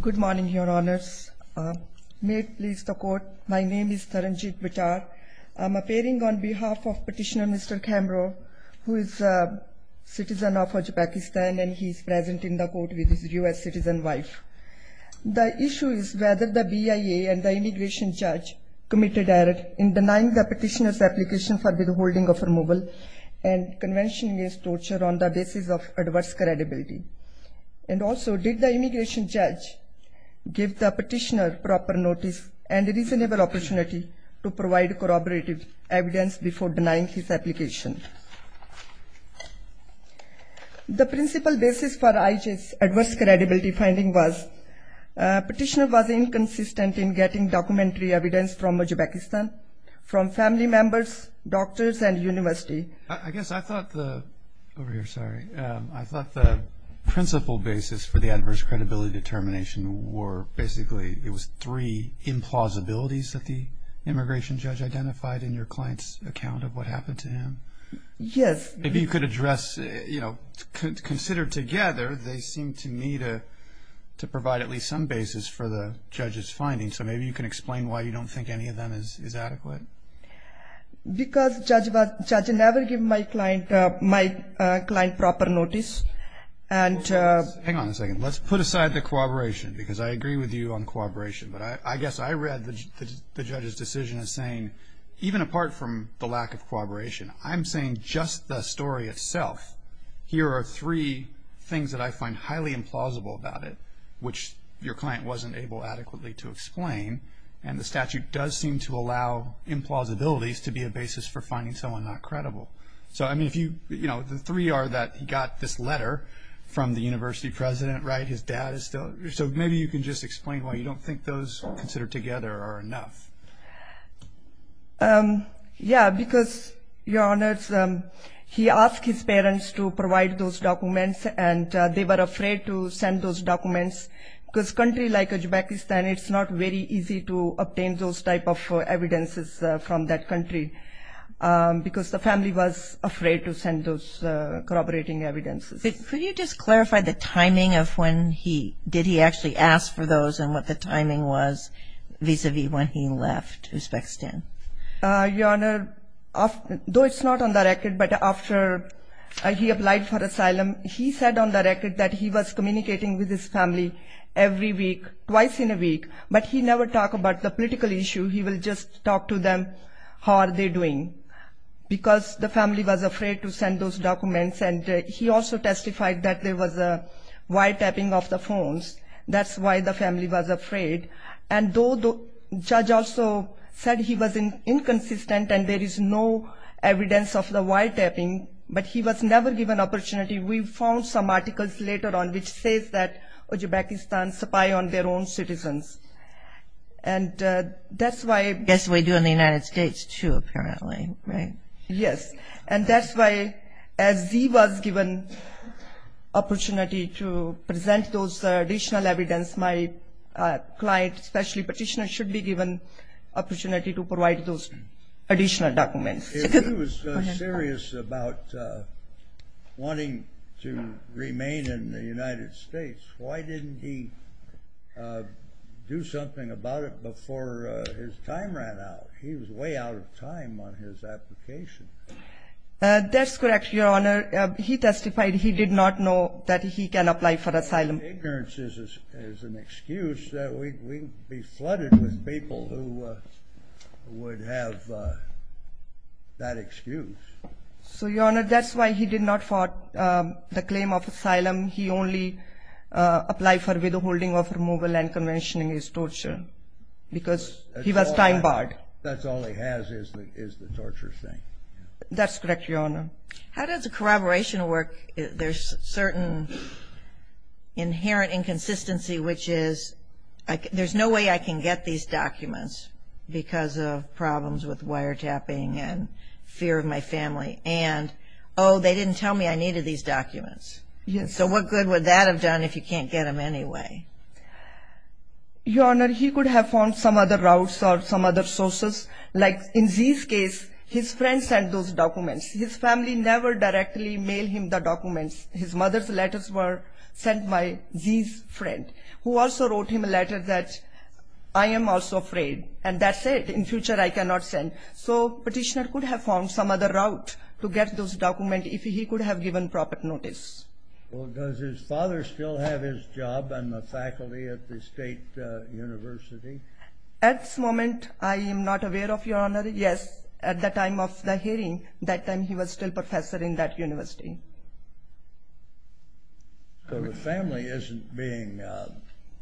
Good morning, Your Honours. May it please the Court, my name is Taranjit Vichar. I am appearing on behalf of Petitioner Mr. Khamroev, who is a citizen of Uzbekistan and he is present in the Court with his U.S. citizen wife. The issue is whether the BIA and the Immigration Judge committed error in denying the Petitioner's application for withholding of removal and convention against torture on the basis of adverse credibility. And also, did the Immigration Judge give the Petitioner proper notice and reasonable opportunity to provide corroborative evidence before denying his application? The principal basis for IJ's adverse credibility finding was Petitioner was inconsistent in getting documentary evidence from him. The principal basis for the adverse credibility determination were basically, it was three implausibilities that the Immigration Judge identified in your client's account of what happened to him? Yes. If you could address, you know, consider together, they seem to me to provide at least some basis for the Judge's findings. So maybe you can explain why you don't think any of them is adequate? Because Judge never gave my client proper notice. Hang on a second. Let's put aside the corroboration because I agree with you on corroboration. But I guess I read the Judge's decision as saying, even apart from the lack of corroboration, I'm saying just the story itself. Here are three things that I find highly implausible about it, which your client wasn't able adequately to explain. And the statute does seem to allow implausibilities to be a basis for finding someone not corroborated. So maybe you can just explain why you don't think those considered together are enough? Yeah, because, Your Honor, he asked his parents to provide those documents and they were afraid to send those documents. Because a country like Uzbekistan, it's not very easy to obtain those type of evidences from that country because the family was afraid to send those corroborating evidences. Could you just clarify the timing of when he, did he actually ask for those and what the timing was vis-a-vis when he left Uzbekistan? Your Honor, though it's not on the record, but after he applied for asylum, he said on the last week, but he never talked about the political issue. He would just talk to them, how are they doing? Because the family was afraid to send those documents and he also testified that there was a wiretapping of the phones. That's why the family was afraid. And though the Judge also said he was inconsistent and there was no evidence, and that's why... I guess we do in the United States, too, apparently, right? Yes. And that's why, as he was given opportunity to present those additional evidence, my client, especially petitioner, should be given opportunity to provide those additional documents. If he was serious about wanting to remain in the United States, why didn't he do something about it before his time ran out? He was way out of time on his application. That's correct, Your Honor. He testified he did not know that he can apply for asylum. Ignorance is an excuse. We'd be flooded with people who would have that excuse. So, Your Honor, that's why he did not fought the claim of asylum. He only applied for withholding of those documents. And that's why he did not fight the claim of asylum. And that's why he did not fight the claim of asylum. And that's why he did not fight the claim of asylum. Well, does his father still have his job and the faculty at the State University? At this moment, I am not aware of, Your Honor. Yes, at the time of the hearing, that time he was still professor in that university. So the family isn't being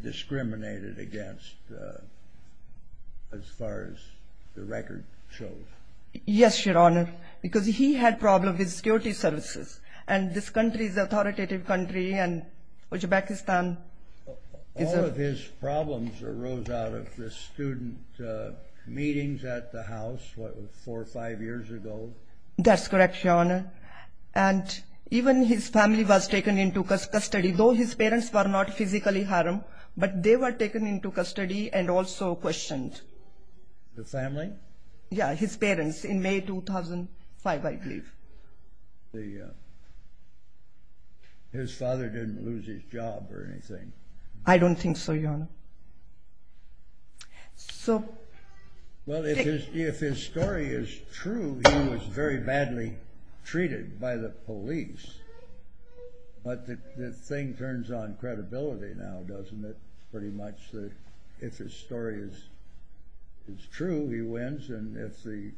discriminated against as far as the record shows? Yes, Your Honor, because he had problems with security services. And this country is an authoritative country. All of his problems arose out of the student meetings at the house, what, four or five years ago? That's correct, Your Honor. And even his family was taken into custody, though his parents were not physically harmed, but they were taken into custody and also questioned. The family? Yes, his parents, in May 2005, I believe. His father didn't lose his job or anything? I don't think so, Your Honor. Well, if his story is true, he was very badly treated by the police. But the thing turns on credibility now, doesn't it? Pretty much that if his story is true, he wins. And if the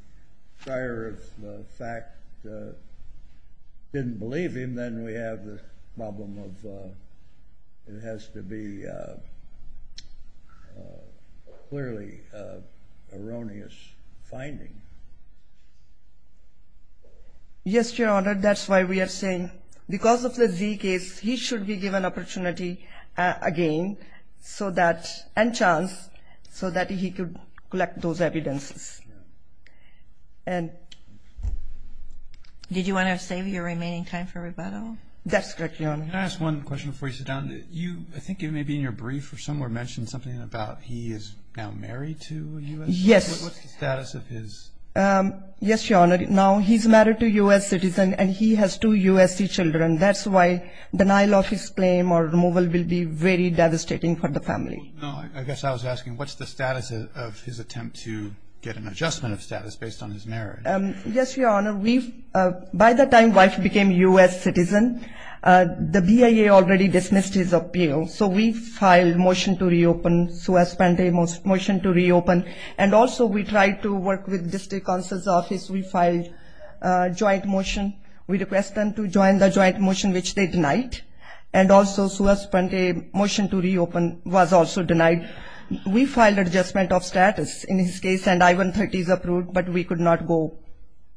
prior of the fact didn't believe him, then we have the problem of it has to be clearly an erroneous finding. Yes, Your Honor, that's why we are saying because of the Z case, he should be given opportunity again so that, and chance, so that he could collect those evidences. And did you want to save your remaining time for rebuttal? That's correct, Your Honor. Can I ask one question before you sit down? You, I think it may be in your brief or somewhere mentioned something about he is now married to a U.S. citizen? Yes. What's the status of his? Yes, Your Honor, now he's married to a U.S. citizen and he has two U.S.C. children. That's why denial of his claim or removal will be very devastating for the family. No, I guess I was asking what's the status of his attempt to get an adjustment of status based on his marriage? Yes, Your Honor, we've, by the time wife became U.S. citizen, the BIA already dismissed his appeal. So we filed motion to reopen, Suez-Pente motion to reopen. And also we tried to work with district counsel's office. We filed joint motion. We request them to join the joint motion, which they denied. And also Suez-Pente motion to reopen was also denied. We filed adjustment of status in his case and I-130 is approved, but we could not go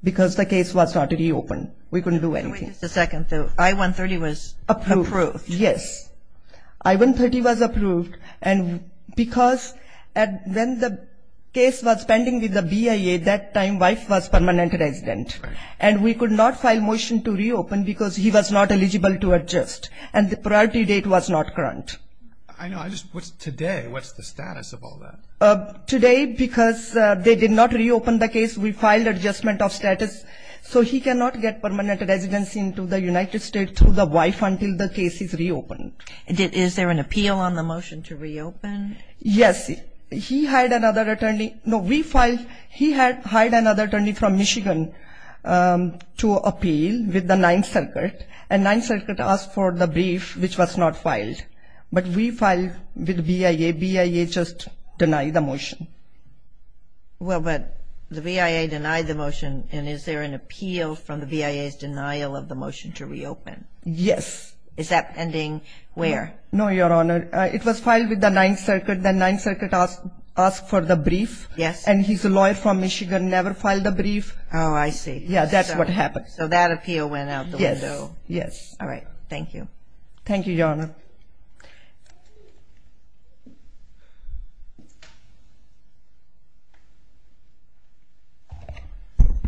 because the case was not reopened. We couldn't do anything. Wait just a second. The I-130 was approved? Approved, yes. I-130 was approved and because when the case was pending with the BIA, that time wife was permanent resident. And we could not file motion to reopen because he was not eligible to adjust. And the priority date was not current. I know, I just, what's today? What's the status of all that? Today, because they did not reopen the case, we filed adjustment of status. So he cannot get permanent residency into the United States to the wife until the case is reopened. Is there an appeal on the motion to reopen? Yes, he hired another attorney. No, we filed, he had hired another attorney from Michigan to appeal with the Ninth Circuit. And Ninth Circuit asked for the brief, which was not filed. But we filed with BIA. BIA just denied the motion. Well, but the BIA denied the motion. And is there an appeal from the BIA's denial of the motion to reopen? Yes. Is that pending where? No, Your Honor. It was filed with the Ninth Circuit. The Ninth Circuit asked for the brief. Yes. And he's a lawyer from Michigan, never filed a brief. Oh, I see. Yeah, that's what happened. So that appeal went out the window. Yes. All right. Thank you. Thank you, Your Honor.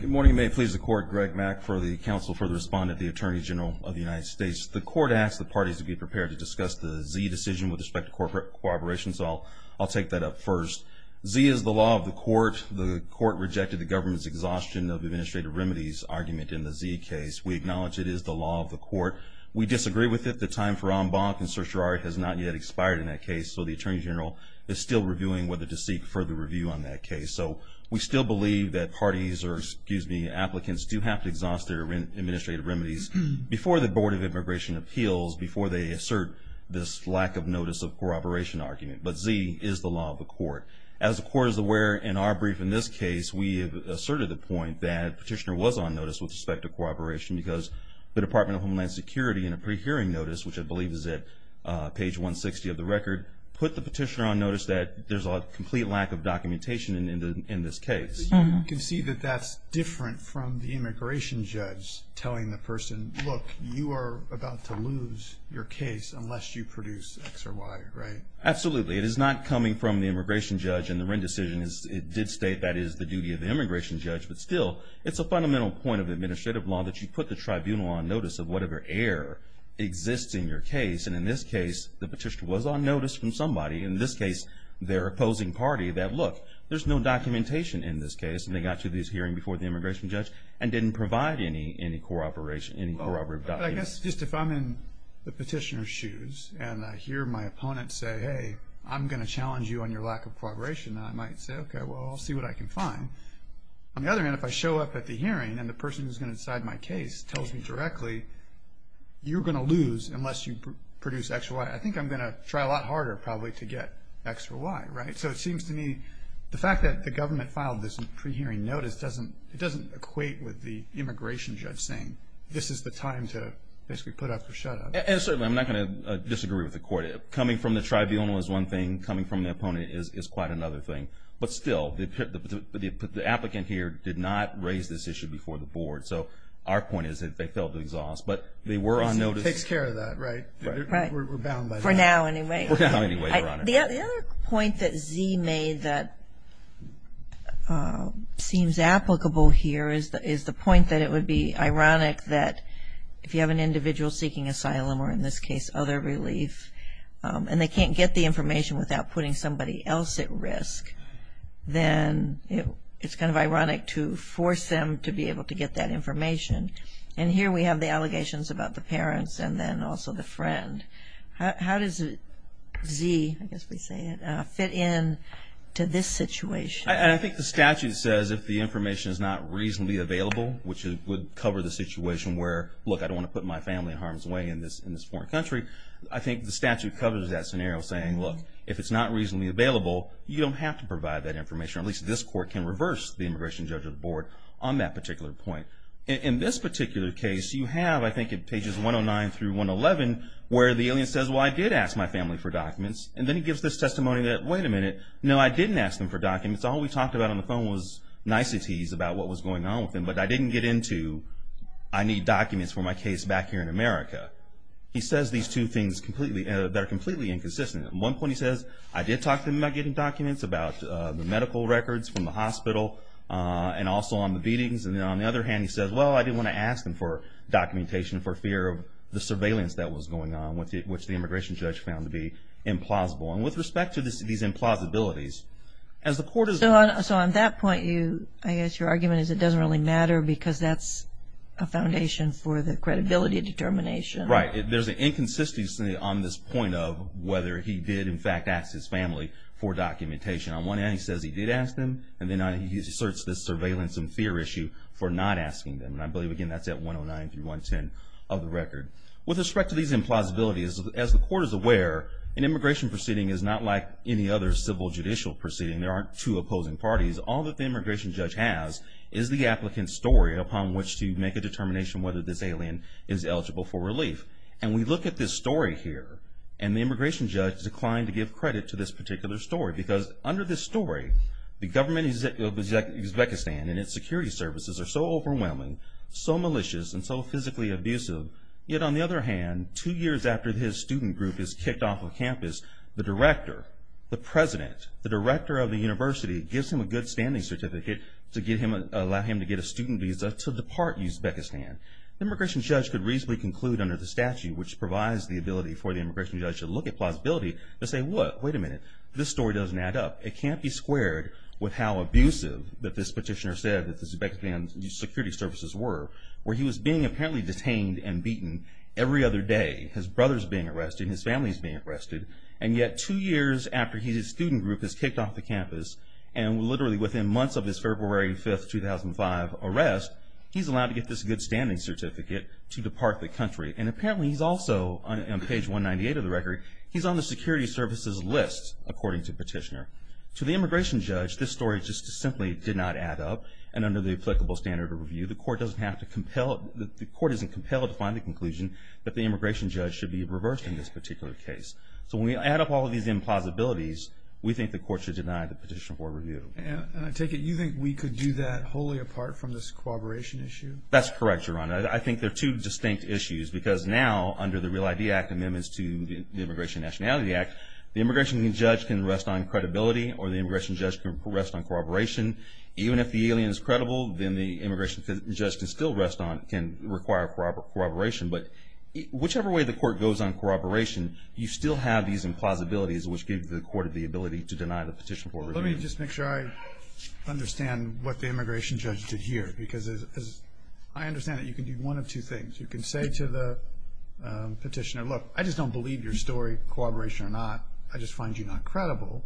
Good morning. May it please the court. Greg Mack for the Council for the Respondent of the Attorney General of the United States. The court asked the parties to be prepared to discuss the Z decision with respect to corporate cooperation, so I'll take that up first. Z is the law of the court. The court rejected the government's exhaustion of administrative remedies argument in the Z case. We acknowledge it is the law of the court. We disagree with it. The time for en banc and certiorari has not yet expired in that case, so the Attorney General is still reviewing whether to seek further review on that case. So we still believe that parties or, excuse me, applicants do have to exhaust their administrative remedies before the Board of Immigration Appeals, before they assert this lack of notice of cooperation argument. But Z is the law of the court. As the court is aware in our brief in this case, we have asserted the point that petitioner was on notice with respect to cooperation because the Department of Homeland Security in a pre-hearing notice, which I believe is at page 160 of the record, put the petitioner on notice that there's a complete lack of documentation in this case. So you can see that that's different from the immigration judge telling the person, look, you are about to lose your case unless you produce X or Y, right? Absolutely. It is not coming from the immigration judge in the Wren decision. It did state that is the duty of the immigration judge, but still, it's a fundamental point of administrative law that you put the tribunal on notice of whatever error exists in your case. And in this case, the petitioner was on notice from somebody. In this case, their opposing party that, look, there's no documentation in this case. And they got to this hearing before the immigration judge and didn't provide any cooperation, any corroborative documents. But I guess just if I'm in the petitioner's shoes and I hear my opponent say, hey, I'm going to challenge you on your lack of cooperation, I might say, okay, well, I'll see what I can find. On the other hand, if I show up at the hearing and the person who's going to decide my case tells me directly, you're going to lose unless you produce X or Y, I think I'm going to try a lot harder probably to get X or Y, right? So it seems to me the fact that the government filed this pre-hearing notice, it doesn't equate with the immigration judge saying this is the time to basically put up or shut up. And certainly, I'm not going to disagree with the court. Coming from the tribunal is one thing. Coming from the opponent is quite another thing. But still, the applicant here did not raise this issue before the board. So our point is that they fell to exhaust. But they were on notice. It takes care of that, right? We're bound by that. For now, anyway. For now, anyway, Your Honor. The other point that Z made that seems applicable here is the point that it would be ironic that if you have an individual seeking asylum, or in this case, other relief, and they can't get the information without putting somebody else at risk, then it's kind of ironic to force them to be able to get that information. And here we have the allegations about the parents and then also the friend. How does Z, I guess we say it, fit in to this situation? I think the statute says if the information is not reasonably available, which would cover the situation where, look, I don't want to put my family in harm's way in this foreign country. I think the statute covers that scenario saying, look, if it's not reasonably available, you don't have to provide that information. At least this court can reverse the immigration judge's board on that particular point. In this particular case, you have, I think it's pages 109 through 111, where the alien says, well, I did ask my family for documents. And then he gives this testimony that, wait a minute, no, I didn't ask them for documents. All we talked about on the phone was niceties about what was going on with them. But I didn't get into I need documents for my case back here in America. He says these two things that are completely inconsistent. At one point he says, I did talk to them about getting documents about the medical records from the hospital and also on the beatings. And then on the other hand, he says, well, I didn't want to ask them for documentation for fear of the surveillance that was going on, which the immigration judge found to be implausible. And with respect to these implausibilities, as the court is So on that point, I guess your argument is it doesn't really matter because that's a foundation for the credibility determination. Right. There's an inconsistency on this point of whether he did, in fact, ask his family for documentation. On one hand, he says he did ask them. And then he asserts this surveillance and fear issue for not asking them. And I believe, again, that's at 109 through 110 of the record. With respect to these implausibilities, as the court is aware, an immigration proceeding is not like any other civil judicial proceeding. There aren't two opposing parties. All that the immigration judge has is the applicant's story upon which to make a determination whether this alien is eligible for relief. And we look at this story here, and the immigration judge declined to give credit to this particular story. Because under this story, the government of Uzbekistan and its security services are so overwhelming, so malicious, and so physically abusive. Yet on the other hand, two years after his student group is kicked off of campus, the director, the president, the director of the university, gives him a good-standing certificate to allow him to get a student visa to depart Uzbekistan. The immigration judge could reasonably conclude under the statute, which provides the ability for the immigration judge to look at plausibility, to say, wait a minute, this story doesn't add up. It can't be squared with how abusive that this petitioner said that the Uzbekistan security services were, where he was being apparently detained and beaten every other day. His brother's being arrested, his family's being arrested, and yet two years after his student group is kicked off the campus, and literally within months of his February 5, 2005 arrest, he's allowed to get this good-standing certificate to depart the country. And apparently he's also, on page 198 of the record, he's on the security services list, according to the petitioner. To the immigration judge, this story just simply did not add up. And under the applicable standard of review, the court doesn't have to compel, the court isn't compelled to find the conclusion that the immigration judge should be reversed in this particular case. So when we add up all of these implausibilities, we think the court should deny the petitioner for review. And I take it you think we could do that wholly apart from this corroboration issue? That's correct, Your Honor. I think they're two distinct issues because now, under the Real ID Act amendments to the Immigration and Nationality Act, the immigration judge can rest on credibility or the immigration judge can rest on corroboration, even if the alien is credible, then the immigration judge can still rest on, can require corroboration. But whichever way the court goes on corroboration, you still have these implausibilities, which give the court the ability to deny the petition for review. Let me just make sure I understand what the immigration judge did here. Because I understand that you can do one of two things. You can say to the petitioner, look, I just don't believe your story, corroboration or not. I just find you not credible.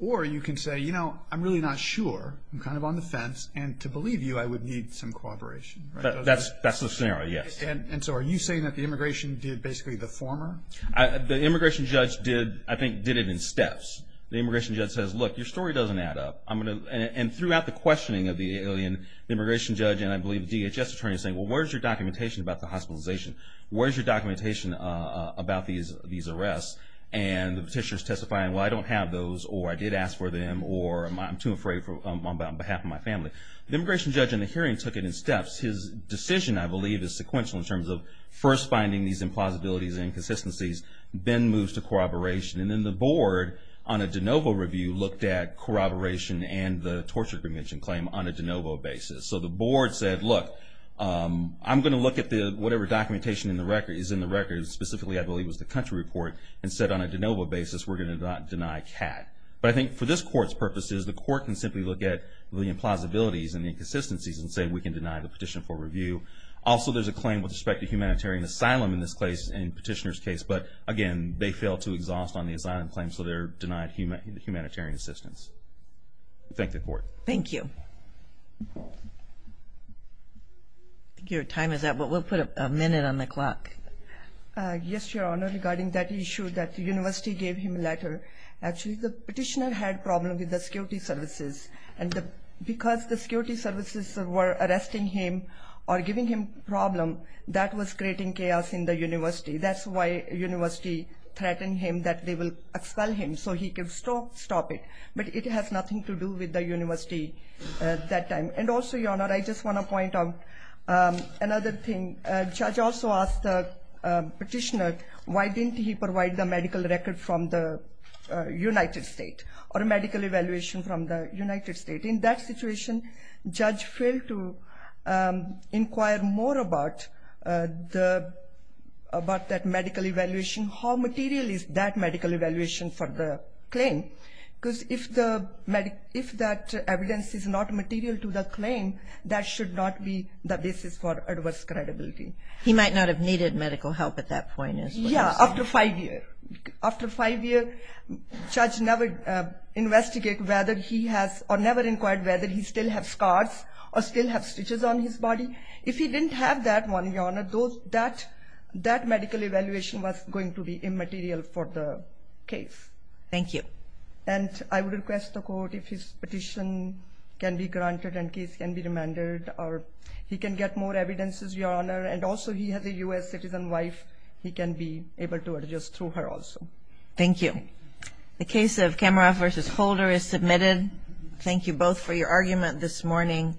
Or you can say, you know, I'm really not sure. I'm kind of on the fence. And to believe you, I would need some corroboration. That's the scenario, yes. And so are you saying that the immigration did basically the former? The immigration judge did, I think, did it in steps. The immigration judge says, look, your story doesn't add up. And throughout the questioning of the alien, the immigration judge and I believe DHS attorney is saying, well, where's your documentation about the hospitalization? Where's your documentation about these arrests? And the petitioner is testifying, well, I don't have those, or I did ask for them, or I'm too afraid on behalf of my family. The immigration judge in the hearing took it in steps. His decision, I believe, is sequential in terms of first finding these implausibilities and inconsistencies, then moves to corroboration. And then the board on a de novo review looked at corroboration and the torture prevention claim on a de novo basis. So the board said, look, I'm going to look at whatever documentation is in the record, specifically I believe was the country report, and said on a de novo basis we're going to not deny CAT. But I think for this court's purposes, the court can simply look at the implausibilities and the inconsistencies and say we can deny the petition for review. Also, there's a claim with respect to humanitarian asylum in this case, in petitioner's case. But again, they failed to exhaust on the asylum claim, so they're denied humanitarian assistance. Thank the court. Thank you. Thank you. Your time is up, but we'll put a minute on the clock. Yes, Your Honor, regarding that issue that the university gave him a letter, actually the petitioner had a problem with the security services. And because the security services were arresting him or giving him a problem, that was creating chaos in the university. That's why the university threatened him that they will expel him so he can stop it. But it has nothing to do with the university at that time. And also, Your Honor, I just want to point out another thing. Judge also asked the petitioner why didn't he provide the medical record from the United States or medical evaluation from the United States. In that situation, judge failed to inquire more about that medical evaluation, how material is that medical evaluation for the claim. Because if that evidence is not material to the claim, that should not be the basis for adverse credibility. He might not have needed medical help at that point. Yes, after five years. After five years, judge never investigated whether he has or never inquired whether he still has scars or still has stitches on his body. If he didn't have that one, Your Honor, that medical evaluation was going to be immaterial for the case. Thank you. And I would request the court if his petition can be granted and case can be remanded or he can get more evidences, Your Honor. And also, he has a U.S. citizen wife. He can be able to adjust to her also. Thank you. The case of Kamaroff v. Holder is submitted. Thank you both for your argument this morning.